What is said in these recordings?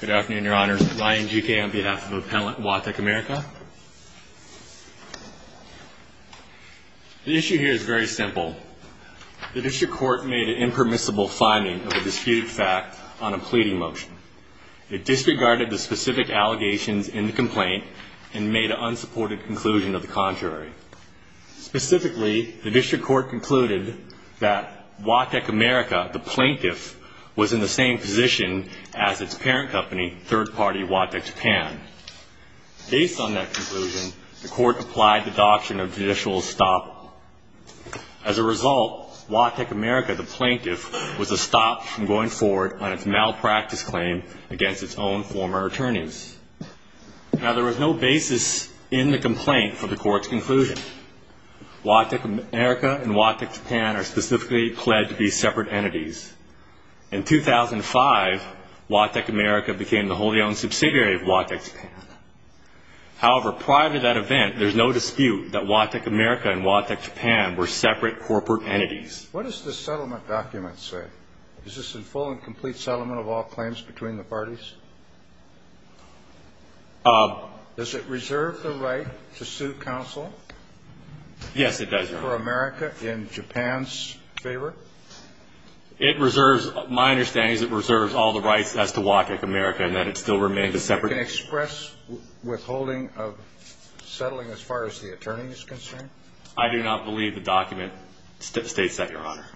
Good afternoon, Your Honors. Ryan G. Kay on behalf of Appellant Watec America. The issue here is very simple. The District Court made an impermissible finding of a disputed fact on a pleading motion. It disregarded the specific allegations in the complaint and made an unsupported conclusion of the contrary. Specifically, the District Court concluded that Watec America, the plaintiff, was in the same position as its parent company, third-party Watec Japan. Based on that conclusion, the Court applied the doctrine of judicial estoppel. As a result, Watec America, the plaintiff, was estopped from going forward on its malpractice claim against its own former attorneys. Now, there was no basis in the complaint for the Court's conclusion. Watec America and Watec Japan are specifically pledged to be separate entities. In 2005, Watec America became the wholly-owned subsidiary of Watec Japan. However, prior to that event, there's no dispute that Watec America and Watec Japan were separate corporate entities. What does the settlement document say? Is this a full and complete settlement of all claims between the parties? Does it reserve the right to sue counsel? Yes, it does, Your Honor. For America in Japan's favor? It reserves, my understanding is it reserves all the rights as to Watec America and that it still remains a separate entity. Can it express withholding of settling as far as the attorney is concerned? I do not believe the document states that, Your Honor.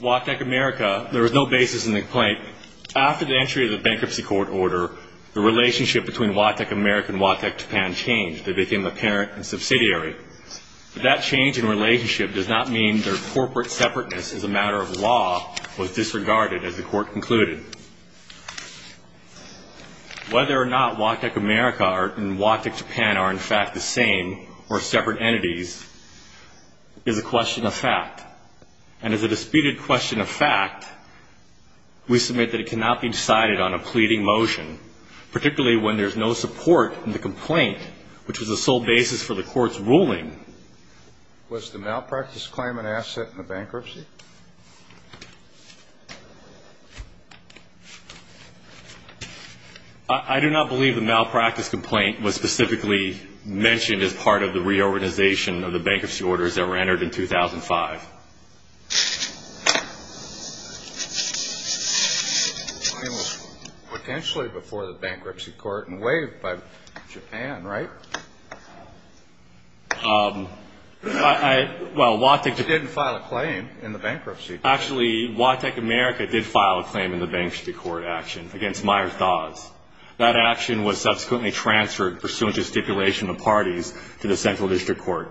Watec America, there was no basis in the complaint. After the entry of the bankruptcy court order, the relationship between Watec America and Watec Japan changed. They became a parent and subsidiary. But that change in relationship does not mean their corporate separateness as a matter of law was disregarded, as the Court concluded. Whether or not Watec America and Watec Japan are, in fact, the same or separate entities is a question of fact. And as a disputed question of fact, we submit that it cannot be decided on a pleading motion, particularly when there's no support in the complaint, which was the sole basis for the Court's ruling. Was the malpractice claim an asset in the bankruptcy? I do not believe the malpractice complaint was specifically mentioned as part of the reorganization of the bankruptcy orders that were entered in 2005. The claim was potentially before the bankruptcy court and waived by Japan, right? Well, Watec didn't file a claim. Actually, Watec America did file a claim in the bankruptcy court action against Myers-Dawes. That action was subsequently transferred, pursuant to stipulation of parties, to the Central District Court.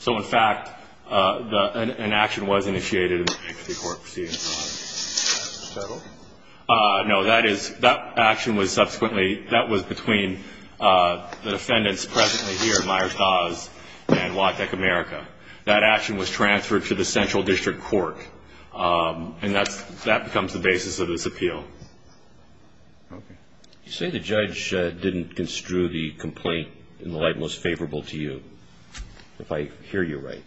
So, in fact, an action was initiated in the bankruptcy court proceeding. No, that action was subsequently between the defendants presently here, Myers-Dawes and Watec America. That action was transferred to the Central District Court, and that becomes the basis of this appeal. Okay. You say the judge didn't construe the complaint in the light most favorable to you, if I hear you right.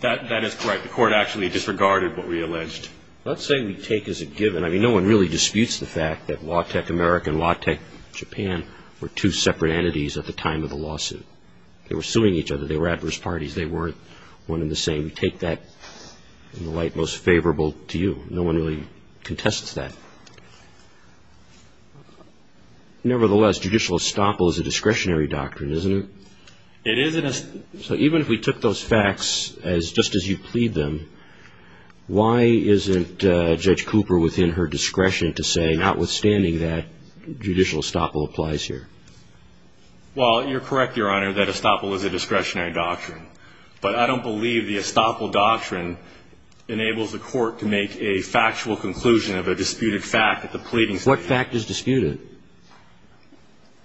That is correct. The Court actually disregarded what we alleged. Let's say we take as a given, I mean, no one really disputes the fact that Watec America and Watec Japan were two separate entities at the time of the lawsuit. They were suing each other. They were adverse parties. They weren't one and the same. We take that in the light most favorable to you. No one really contests that. Nevertheless, judicial estoppel is a discretionary doctrine, isn't it? It is. So even if we took those facts just as you plead them, why isn't Judge Cooper within her discretion to say, notwithstanding that, judicial estoppel applies here? Well, you're correct, Your Honor, that estoppel is a discretionary doctrine. But I don't believe the estoppel doctrine enables the Court to make a factual conclusion of a disputed fact at the pleading stage. What fact is disputed?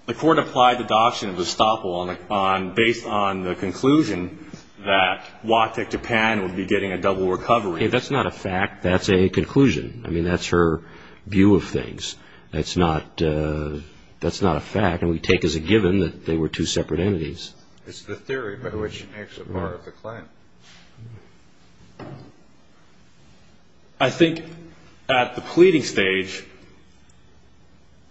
The Court applied the doctrine of estoppel based on the conclusion that Watec Japan would be getting a double recovery. That's not a fact. That's a conclusion. I mean, that's her view of things. That's not a fact, and we take as a given that they were two separate entities. It's the theory by which she makes it part of the claim. I think at the pleading stage,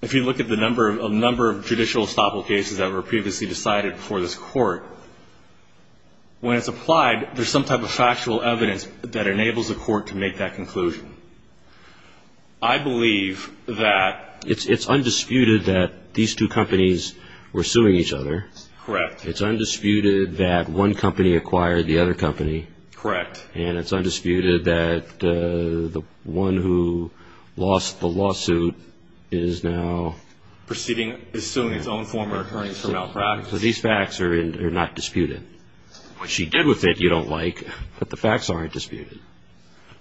if you look at the number of judicial estoppel cases that were previously decided before this Court, when it's applied, there's some type of factual evidence that enables the Court to make that conclusion. I believe that it's undisputed that these two companies were suing each other. Correct. It's undisputed that one company acquired the other company. Correct. And it's undisputed that the one who lost the lawsuit is now suing its own former attorneys for malpractice. So these facts are not disputed. What she did with it, you don't like, but the facts aren't disputed.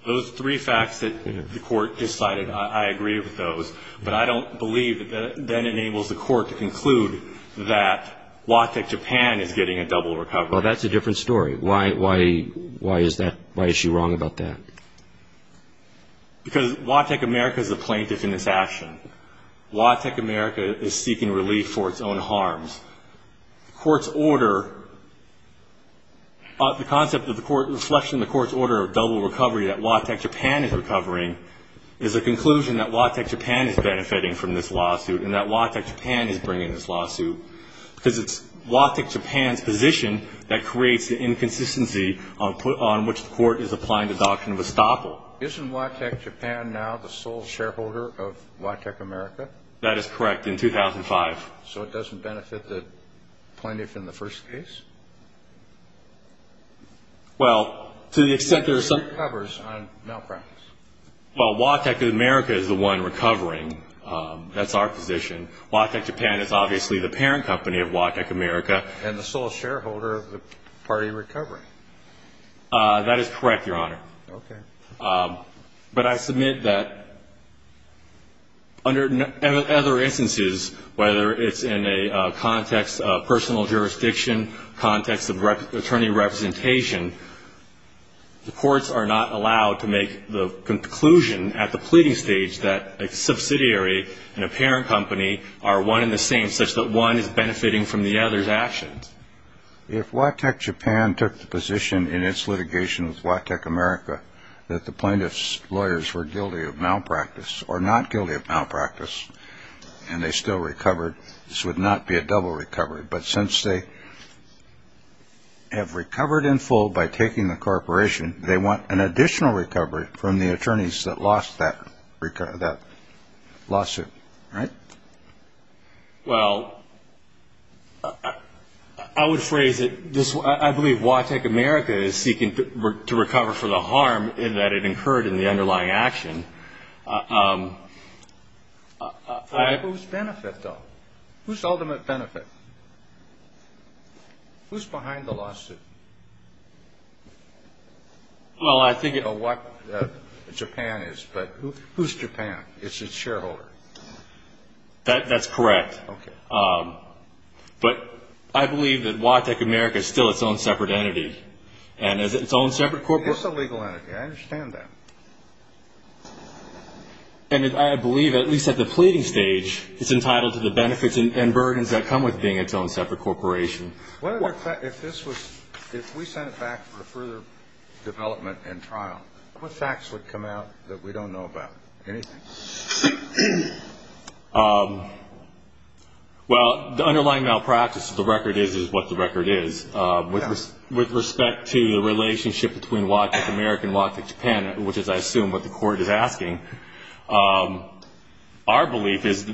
Those three facts that the Court decided, I agree with those, but I don't believe that that enables the Court to conclude that Watek Japan is getting a double recovery. Well, that's a different story. Why is she wrong about that? Because Watek America is a plaintiff in this action. Watek America is seeking relief for its own harms. The Court's order, the concept of the Court's reflection, the Court's order of double recovery that Watek Japan is recovering, is a conclusion that Watek Japan is benefiting from this lawsuit and that Watek Japan is bringing this lawsuit because it's Watek Japan's position that creates the inconsistency on which the Court is applying the doctrine of estoppel. Isn't Watek Japan now the sole shareholder of Watek America? That is correct, in 2005. So it doesn't benefit the plaintiff in the first case? Well, to the extent there's some – She recovers on malpractice. Well, Watek America is the one recovering. That's our position. Watek Japan is obviously the parent company of Watek America. And the sole shareholder of the party recovering. That is correct, Your Honor. Okay. But I submit that under other instances, whether it's in a context of personal jurisdiction, context of attorney representation, the courts are not allowed to make the conclusion at the pleading stage that a subsidiary and a parent company are one and the same, If Watek Japan took the position in its litigation with Watek America that the plaintiff's lawyers were guilty of malpractice or not guilty of malpractice and they still recovered, this would not be a double recovery. But since they have recovered in full by taking the corporation, they want an additional recovery from the attorneys that lost that lawsuit, right? Well, I would phrase it this way. I believe Watek America is seeking to recover from the harm that it incurred in the underlying action. Whose benefit, though? Whose ultimate benefit? Who's behind the lawsuit? Well, I think it – I don't know what Japan is, but who's Japan? It's its shareholder. That's correct. Okay. But I believe that Watek America is still its own separate entity. And as its own separate – I mean, it's a legal entity. I understand that. And I believe, at least at the pleading stage, it's entitled to the benefits and burdens that come with being its own separate corporation. If this was – if we sent it back for further development and trial, what facts would come out that we don't know about? Anything? Well, the underlying malpractice of the record is what the record is. With respect to the relationship between Watek America and Watek Japan, which is, I assume, what the court is asking, our belief is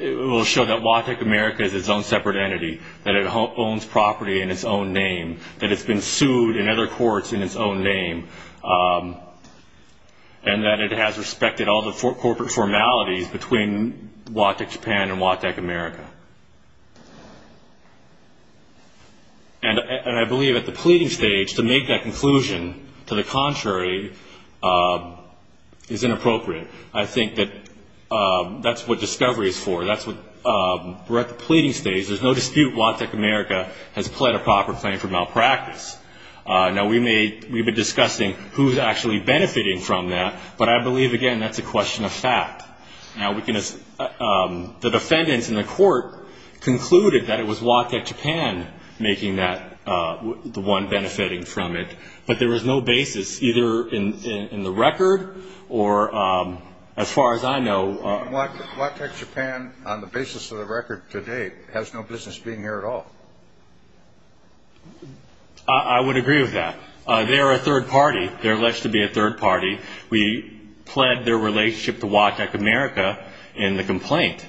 it will show that Watek America is its own separate entity, that it owns property in its own name, that it's been sued in other courts in its own name, and that it has respected all the corporate formalities between Watek Japan and Watek America. And I believe, at the pleading stage, to make that conclusion to the contrary is inappropriate. I think that that's what discovery is for. That's what – we're at the pleading stage. There's no dispute Watek America has pled a proper claim for malpractice. Now, we may – we've been discussing who's actually benefiting from that, but I believe, again, that's a question of fact. Now, we can – the defendants in the court concluded that it was Watek Japan making that – the one benefiting from it. But there was no basis, either in the record or, as far as I know – Watek Japan, on the basis of the record to date, has no business being here at all. I would agree with that. They're a third party. They're alleged to be a third party. We pled their relationship to Watek America in the complaint.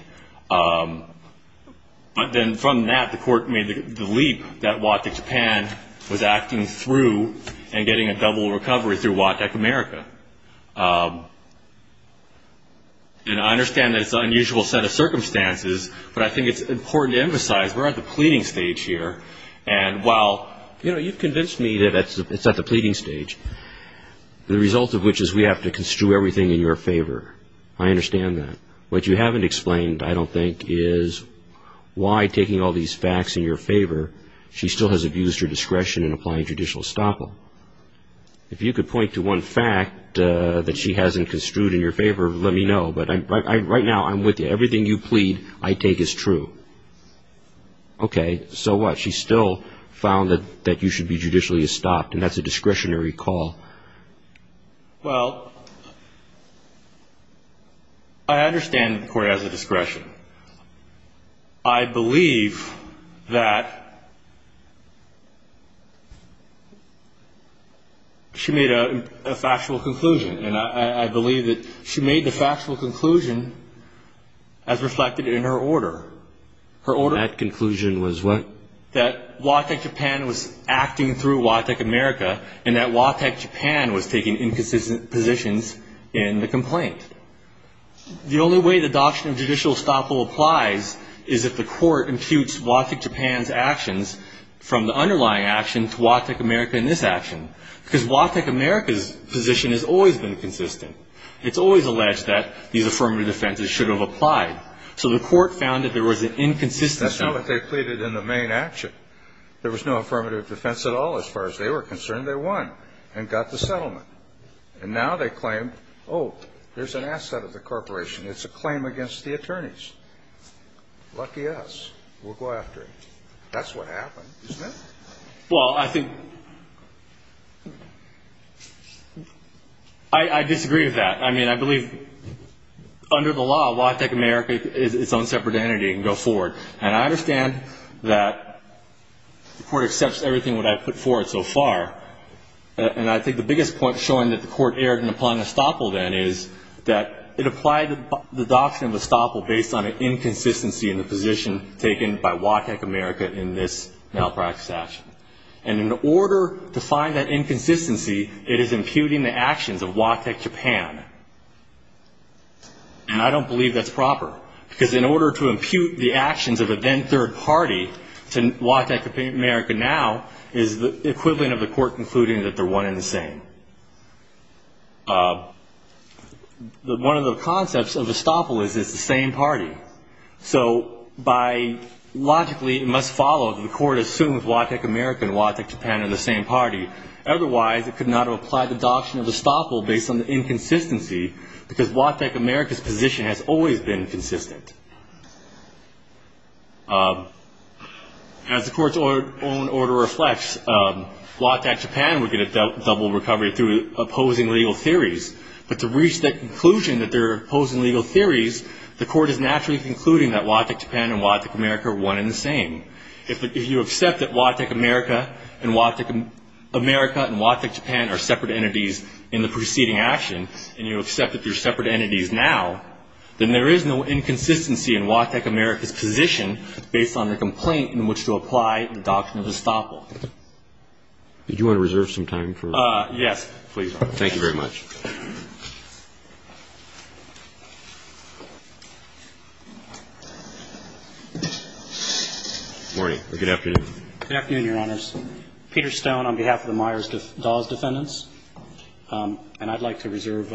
But then from that, the court made the leap that Watek Japan was acting through and getting a double recovery through Watek America. And I understand that it's an unusual set of circumstances, but I think it's important to emphasize we're at the pleading stage here. And while, you know, you've convinced me that it's at the pleading stage, the result of which is we have to construe everything in your favor. I understand that. What you haven't explained, I don't think, is why, taking all these facts in your favor, she still has abused her discretion in applying judicial estoppel. If you could point to one fact that she hasn't construed in your favor, let me know. But right now, I'm with you. Everything you plead, I take as true. Okay. So what? She still found that you should be judicially estopped, and that's a discretionary call. Well, I understand the court has a discretion. I believe that she made a factual conclusion, and I believe that she made the factual conclusion as reflected in her order. Her order? That conclusion was what? That Watek Japan was acting through Watek America, and that Watek Japan was taking inconsistent positions in the complaint. The only way the doctrine of judicial estoppel applies is if the court imputes Watek Japan's actions from the underlying action to Watek America in this action, because Watek America's position has always been consistent. It's always alleged that these affirmative defenses should have applied. So the court found that there was an inconsistency. That's not what they pleaded in the main action. There was no affirmative defense at all. As far as they were concerned, they won and got the settlement. And now they claim, oh, there's an asset of the corporation. It's a claim against the attorneys. Lucky us. We'll go after him. That's what happened, isn't it? Well, I think I disagree with that. I mean, I believe under the law, Watek America is its own separate entity. It can go forward. And I understand that the court accepts everything that I've put forward so far, and I think the biggest point showing that the court erred in applying the estoppel then is that it applied the doctrine of estoppel based on an inconsistency in the position taken by Watek America in this malpractice action. And in order to find that inconsistency, it is imputing the actions of Watek Japan. And I don't believe that's proper, because in order to impute the actions of a then third party to Watek America now is the equivalent of the court concluding that they're one and the same. One of the concepts of estoppel is it's the same party. So logically it must follow that the court assumes Watek America and Watek Japan are the same party. Otherwise, it could not have applied the doctrine of estoppel based on the inconsistency, because Watek America's position has always been consistent. As the court's own order reflects, Watek Japan would get a double recovery through opposing legal theories. But to reach that conclusion that they're opposing legal theories, the court is naturally concluding that Watek Japan and Watek America are one and the same. If you accept that Watek America and Watek Japan are separate entities in the preceding action, and you accept that they're separate entities now, then there is no inconsistency in Watek America's position based on the complaint in which to apply the doctrine of estoppel. Did you want to reserve some time for? Yes, please. Thank you very much. Good afternoon. Good afternoon, Your Honors. Peter Stone on behalf of the Myers-Dawes defendants, and I'd like to reserve,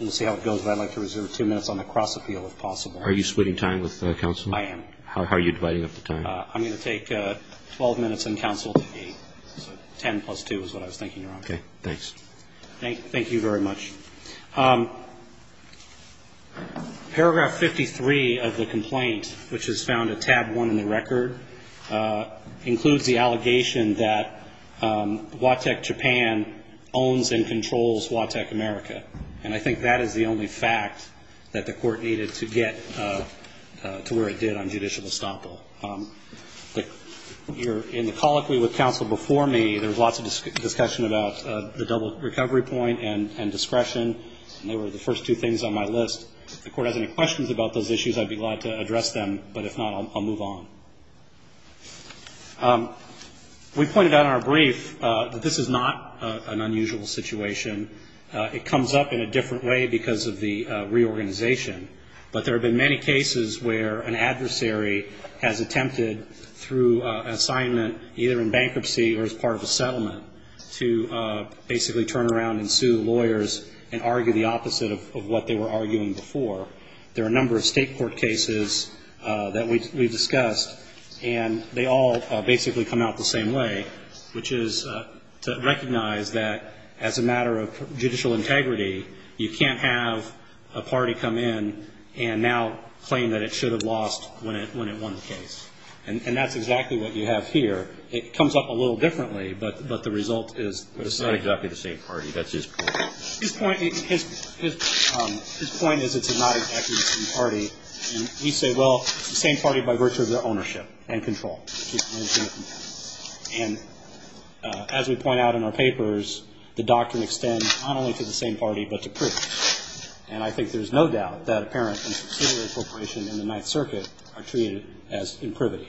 we'll see how it goes, but I'd like to reserve two minutes on the cross-appeal if possible. Are you splitting time with counsel? I am. How are you dividing up the time? I'm going to take 12 minutes and counsel to eight. So 10 plus two is what I was thinking, Your Honor. Okay. Thanks. Thank you very much. Paragraph 53 of the complaint, which is found at tab one in the record, includes the allegation that Watek Japan owns and controls Watek America, and I think that is the only fact that the court needed to get to where it did on judicial estoppel. In the colloquy with counsel before me, there was lots of discussion about the double recovery point and discretion, and they were the first two things on my list. If the court has any questions about those issues, I'd be glad to address them, but if not, I'll move on. We pointed out in our brief that this is not an unusual situation. It comes up in a different way because of the reorganization, but there have been many cases where an adversary has attempted through an assignment, either in bankruptcy or as part of a settlement, to basically turn around and sue lawyers and argue the opposite of what they were arguing before. There are a number of state court cases that we've discussed, and they all basically come out the same way, which is to recognize that as a matter of judicial integrity, you can't have a party come in and now claim that it should have lost when it won the case. And that's exactly what you have here. It comes up a little differently, but the result is the same. It's not exactly the same party. That's his point. His point is it's not exactly the same party. And we say, well, it's the same party by virtue of their ownership and control. And as we point out in our papers, the doctrine extends not only to the same party but to proof. And I think there's no doubt that apparent and subsidiary appropriation in the Ninth Circuit are treated as imprivity.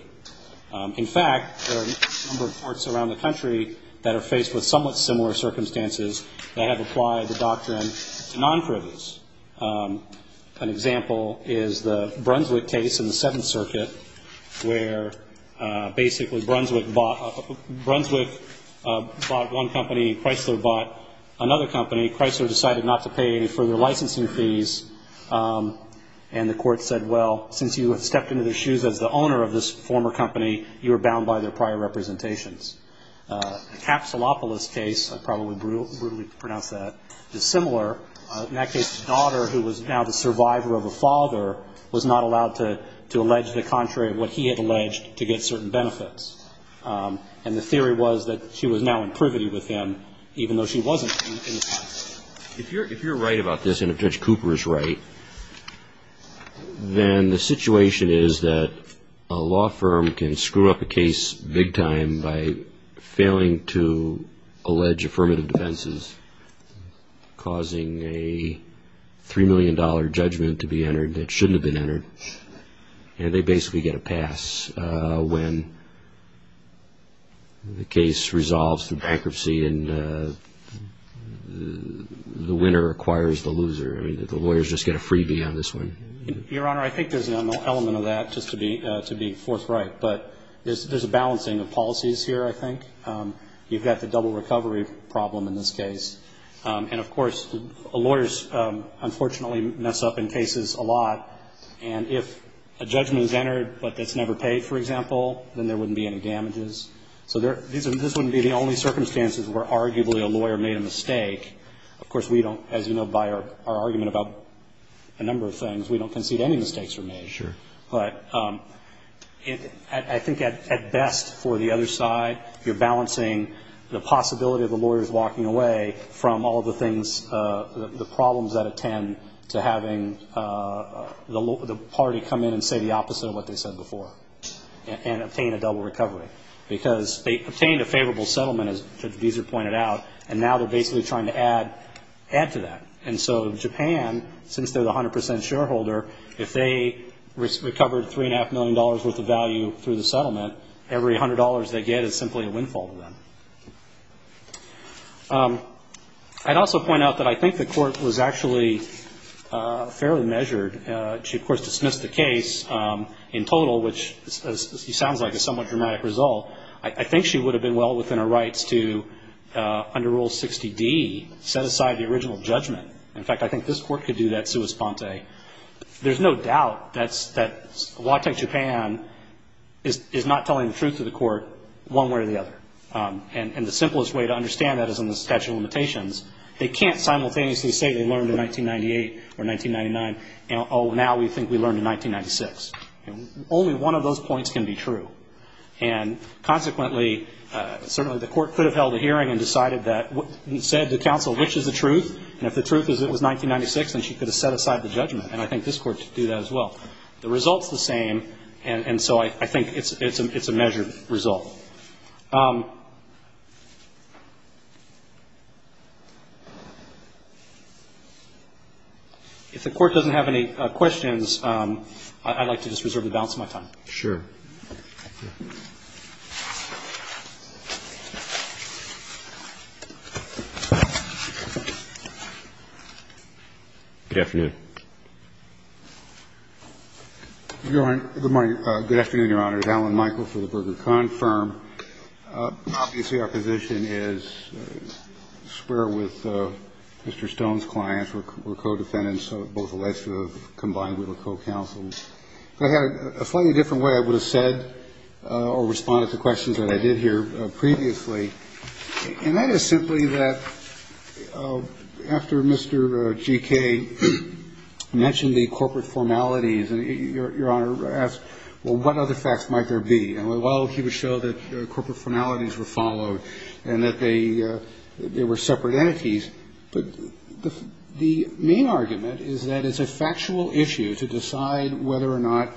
In fact, there are a number of courts around the country that are faced with somewhat similar circumstances that have applied the doctrine to non-privilege. An example is the Brunswick case in the Seventh Circuit, where basically Brunswick bought one company, Chrysler bought another company. Chrysler decided not to pay any further licensing fees, and the court said, well, since you have stepped into their shoes as the owner of this former company, you are bound by their prior representations. The Capsulopoulos case, I probably would brutally pronounce that, is similar. In that case, the daughter, who was now the survivor of a father, was not allowed to allege the contrary of what he had alleged to get certain benefits. And the theory was that she was now in privity with him, even though she wasn't in the past. If you're right about this, and if Judge Cooper is right, then the situation is that a law firm can screw up a case big time by failing to allege affirmative defenses, causing a $3 million judgment to be entered that shouldn't have been entered, and they basically get a pass when the case resolves through bankruptcy, and the winner acquires the loser. I mean, the lawyers just get a freebie on this one. Your Honor, I think there's an element of that, just to be forthright, but there's a balancing of policies here, I think. You've got the double recovery problem in this case, and, of course, lawyers unfortunately mess up in cases a lot, and if a judgment is entered but that's never paid, for example, then there wouldn't be any damages. So this wouldn't be the only circumstances where arguably a lawyer made a mistake. Of course, we don't, as you know by our argument about a number of things, we don't concede any mistakes were made. Sure. But I think at best for the other side, you're balancing the possibility of the lawyers walking away from all of the things, the problems that attend to having the party come in and say the opposite of what they said before and obtain a double recovery, because they obtained a favorable settlement, as Judge Deeser pointed out, and now they're basically trying to add to that. And so Japan, since they're the 100 percent shareholder, if they recovered $3.5 million worth of value through the settlement, every $100 they get is simply a windfall to them. I'd also point out that I think the court was actually fairly measured. She, of course, dismissed the case in total, which sounds like a somewhat dramatic result. I think she would have been well within her rights to, under Rule 60D, set aside the original judgment. In fact, I think this court could do that sua sponte. There's no doubt that Watek Japan is not telling the truth to the court one way or the other. And the simplest way to understand that is in the statute of limitations. They can't simultaneously say they learned in 1998 or 1999. Oh, now we think we learned in 1996. Only one of those points can be true. And consequently, certainly the court could have held a hearing and decided that he said to counsel which is the truth, and if the truth is it was 1996, then she could have set aside the judgment. And I think this court could do that as well. The result's the same, and so I think it's a measured result. If the court doesn't have any questions, I'd like to just reserve the balance of my time. Sure. Good afternoon. Good morning. Good afternoon, Your Honor. Alan Michael for the Berger-Kahn Firm. Obviously our position is square with Mr. Stone's clients. We're co-defendants, both alleged to have combined with or co-counseled. If I had it a slightly different way, I would have said or responded to questions that I did hear previously. And that is simply that after Mr. G.K. mentioned the corporate formalities and Your Honor asked, well, what other facts might there be, and while he would show that corporate formalities were followed and that they were separate entities, the main argument is that it's a factual issue to decide whether or not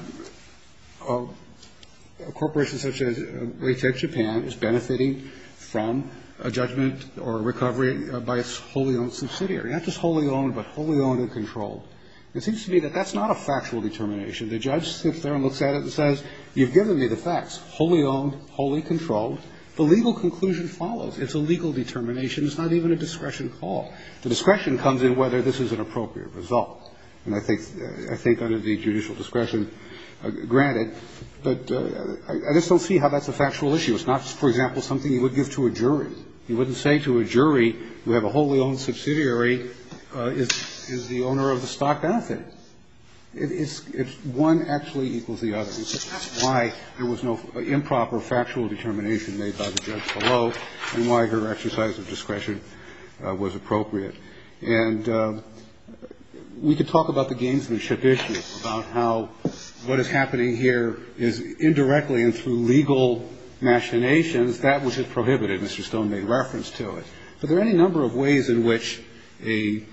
a corporation such as Raytheon Japan is benefiting from a judgment or a recovery by its wholly owned subsidiary. Not just wholly owned, but wholly owned and controlled. It seems to me that that's not a factual determination. The judge sits there and looks at it and says, you've given me the facts, wholly owned, wholly controlled. The legal conclusion follows. It's a legal determination. It's not even a discretion call. The discretion comes in whether this is an appropriate result. And I think under the judicial discretion, granted. But I just don't see how that's a factual issue. It's not, for example, something you would give to a jury. You wouldn't say to a jury, you have a wholly owned subsidiary is the owner of the stock benefit. It's one actually equals the other. It's why there was no improper factual determination made by the judge below and why her exercise of discretion was appropriate. And we could talk about the gamesmanship issue, about how what is happening here is indirectly and through legal machinations. That was just prohibited. Mr. Stone made reference to it. But there are any number of ways in which a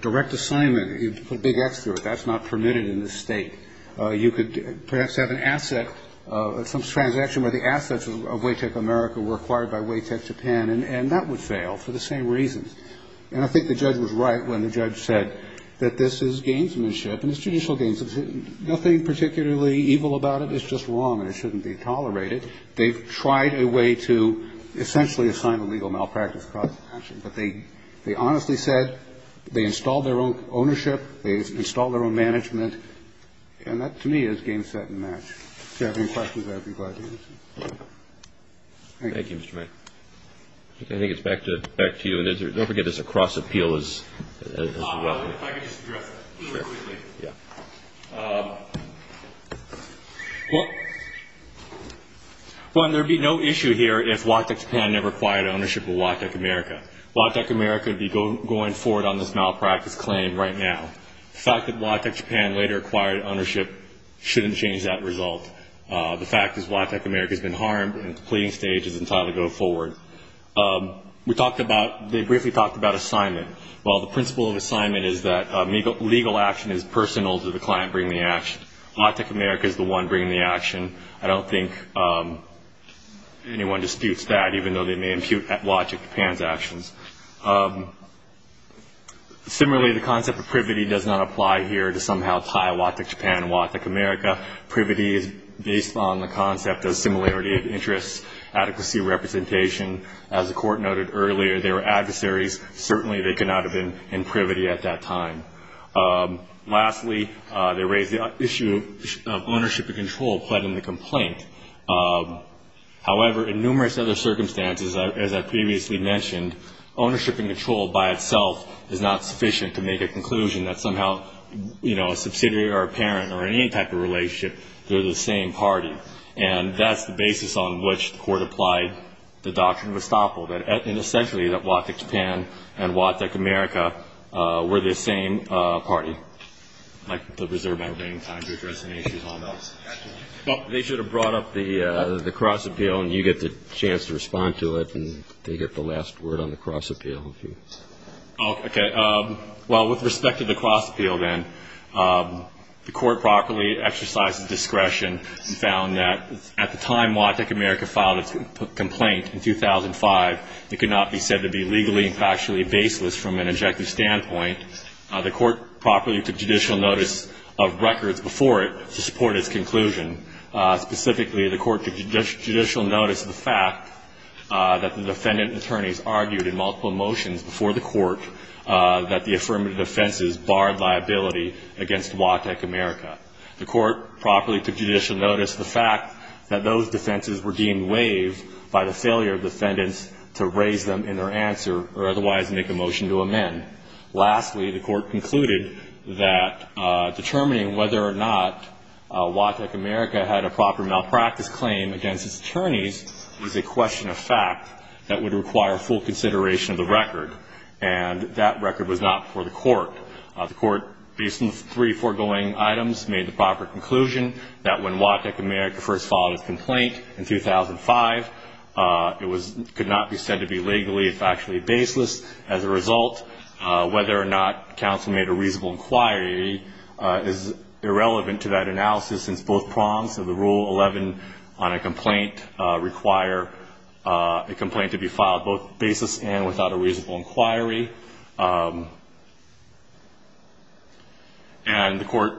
direct assignment, put a big X through it, that's not permitted in this State. You could perhaps have an asset, some transaction where the assets of Waytech America were acquired by Waytech Japan, and that would fail for the same reasons. And I think the judge was right when the judge said that this is gamesmanship and it's judicial gamesmanship. Nothing particularly evil about it. It's just wrong and it shouldn't be tolerated. They've tried a way to essentially assign a legal malpractice cause to action. But they honestly said they installed their own ownership. They installed their own management. And that, to me, is game, set, and match. If you have any questions, I'd be glad to answer. Thank you, Mr. Mayer. I think it's back to you. And don't forget there's a cross-appeal as well. If I could just address that. Sure. One, there would be no issue here if Waytech Japan never acquired ownership of Waytech America. Waytech America would be going forward on this malpractice claim right now. The fact that Waytech Japan later acquired ownership shouldn't change that result. The fact is Waytech America has been harmed and the pleading stage is entitled to go forward. We talked about, they briefly talked about assignment. Well, the principle of assignment is that legal action is personal to the client bringing the action. Waytech America is the one bringing the action. I don't think anyone disputes that, even though they may impute Waytech Japan's actions. Similarly, the concept of privity does not apply here to somehow tie Waytech Japan and Waytech America. Privity is based on the concept of similarity of interests, adequacy of representation. As the Court noted earlier, they were adversaries. Certainly they could not have been in privity at that time. Lastly, they raised the issue of ownership and control pled in the complaint. However, in numerous other circumstances, as I previously mentioned, ownership and control by itself is not sufficient to make a conclusion that somehow, you know, a subsidiary or a parent or any type of relationship, they're the same party. And that's the basis on which the Court applied the Doctrine of Estoppel, that essentially that Waytech Japan and Waytech America were the same party, like the Reserve Bank. They should have brought up the cross appeal, and you get the chance to respond to it, and they get the last word on the cross appeal. Okay. Well, with respect to the cross appeal then, the Court properly exercised discretion and found that at the time Waytech America filed its complaint in 2005, it could not be said to be legally and factually baseless from an objective standpoint. The Court properly took judicial notice of records before it to support its conclusion. Specifically, the Court took judicial notice of the fact that the defendant and attorneys argued in multiple motions before the Court that the affirmative defenses barred liability against Waytech America. The Court properly took judicial notice of the fact that those defenses were deemed waived by the failure of defendants to raise them in their answer or otherwise make a motion to amend. Lastly, the Court concluded that determining whether or not Waytech America had a proper malpractice claim against its attorneys is a question of fact that would require full consideration of the record, and that record was not before the Court. The Court based on the three foregoing items made the proper conclusion that when Waytech America first filed its complaint in 2005, it could not be said to be legally and factually baseless. As a result, whether or not counsel made a reasonable inquiry is irrelevant to that analysis since both prongs of the Rule 11 on a complaint require a complaint to be filed both baseless and without a reasonable inquiry. And the Court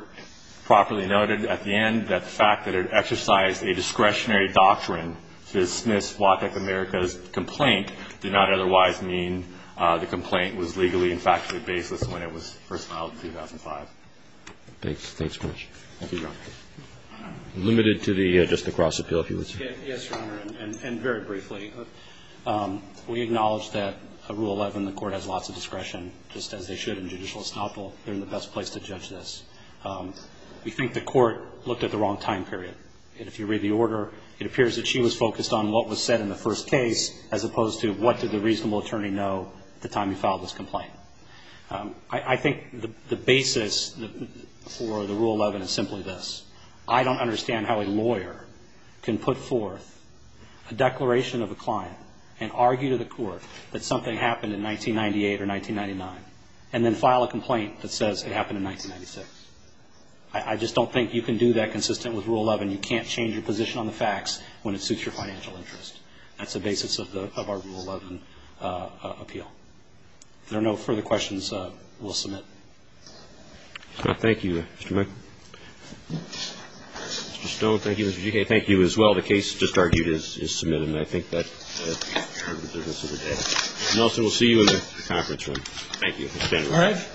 properly noted at the end that the fact that it exercised a discretionary doctrine to dismiss Waytech America's complaint did not otherwise mean the complaint was legally and factually baseless when it was first filed in 2005. Thanks. Thanks very much. Thank you, Your Honor. Limited to just the cross-appeal, if you would, sir. Yes, Your Honor, and very briefly. We acknowledge that Rule 11, the Court has lots of discretion, just as they should in judicial estoppel. They're in the best place to judge this. We think the Court looked at the wrong time period. If you read the order, it appears that she was focused on what was said in the first case as opposed to what did the reasonable attorney know the time you filed this complaint. I think the basis for the Rule 11 is simply this. I don't understand how a lawyer can put forth a declaration of a client and argue to the Court that something happened in 1998 or 1999 and then file a complaint that says it happened in 1996. I just don't think you can do that consistent with Rule 11. You can't change your position on the facts when it suits your financial interest. That's the basis of our Rule 11 appeal. If there are no further questions, we'll submit. Thank you, Mr. Michael. Mr. Stone, thank you. Mr. Gikai, thank you as well. The case just argued is submitted, and I think that concludes the rest of the day. Mr. Nelson, we'll see you in the conference room. Thank you. All right.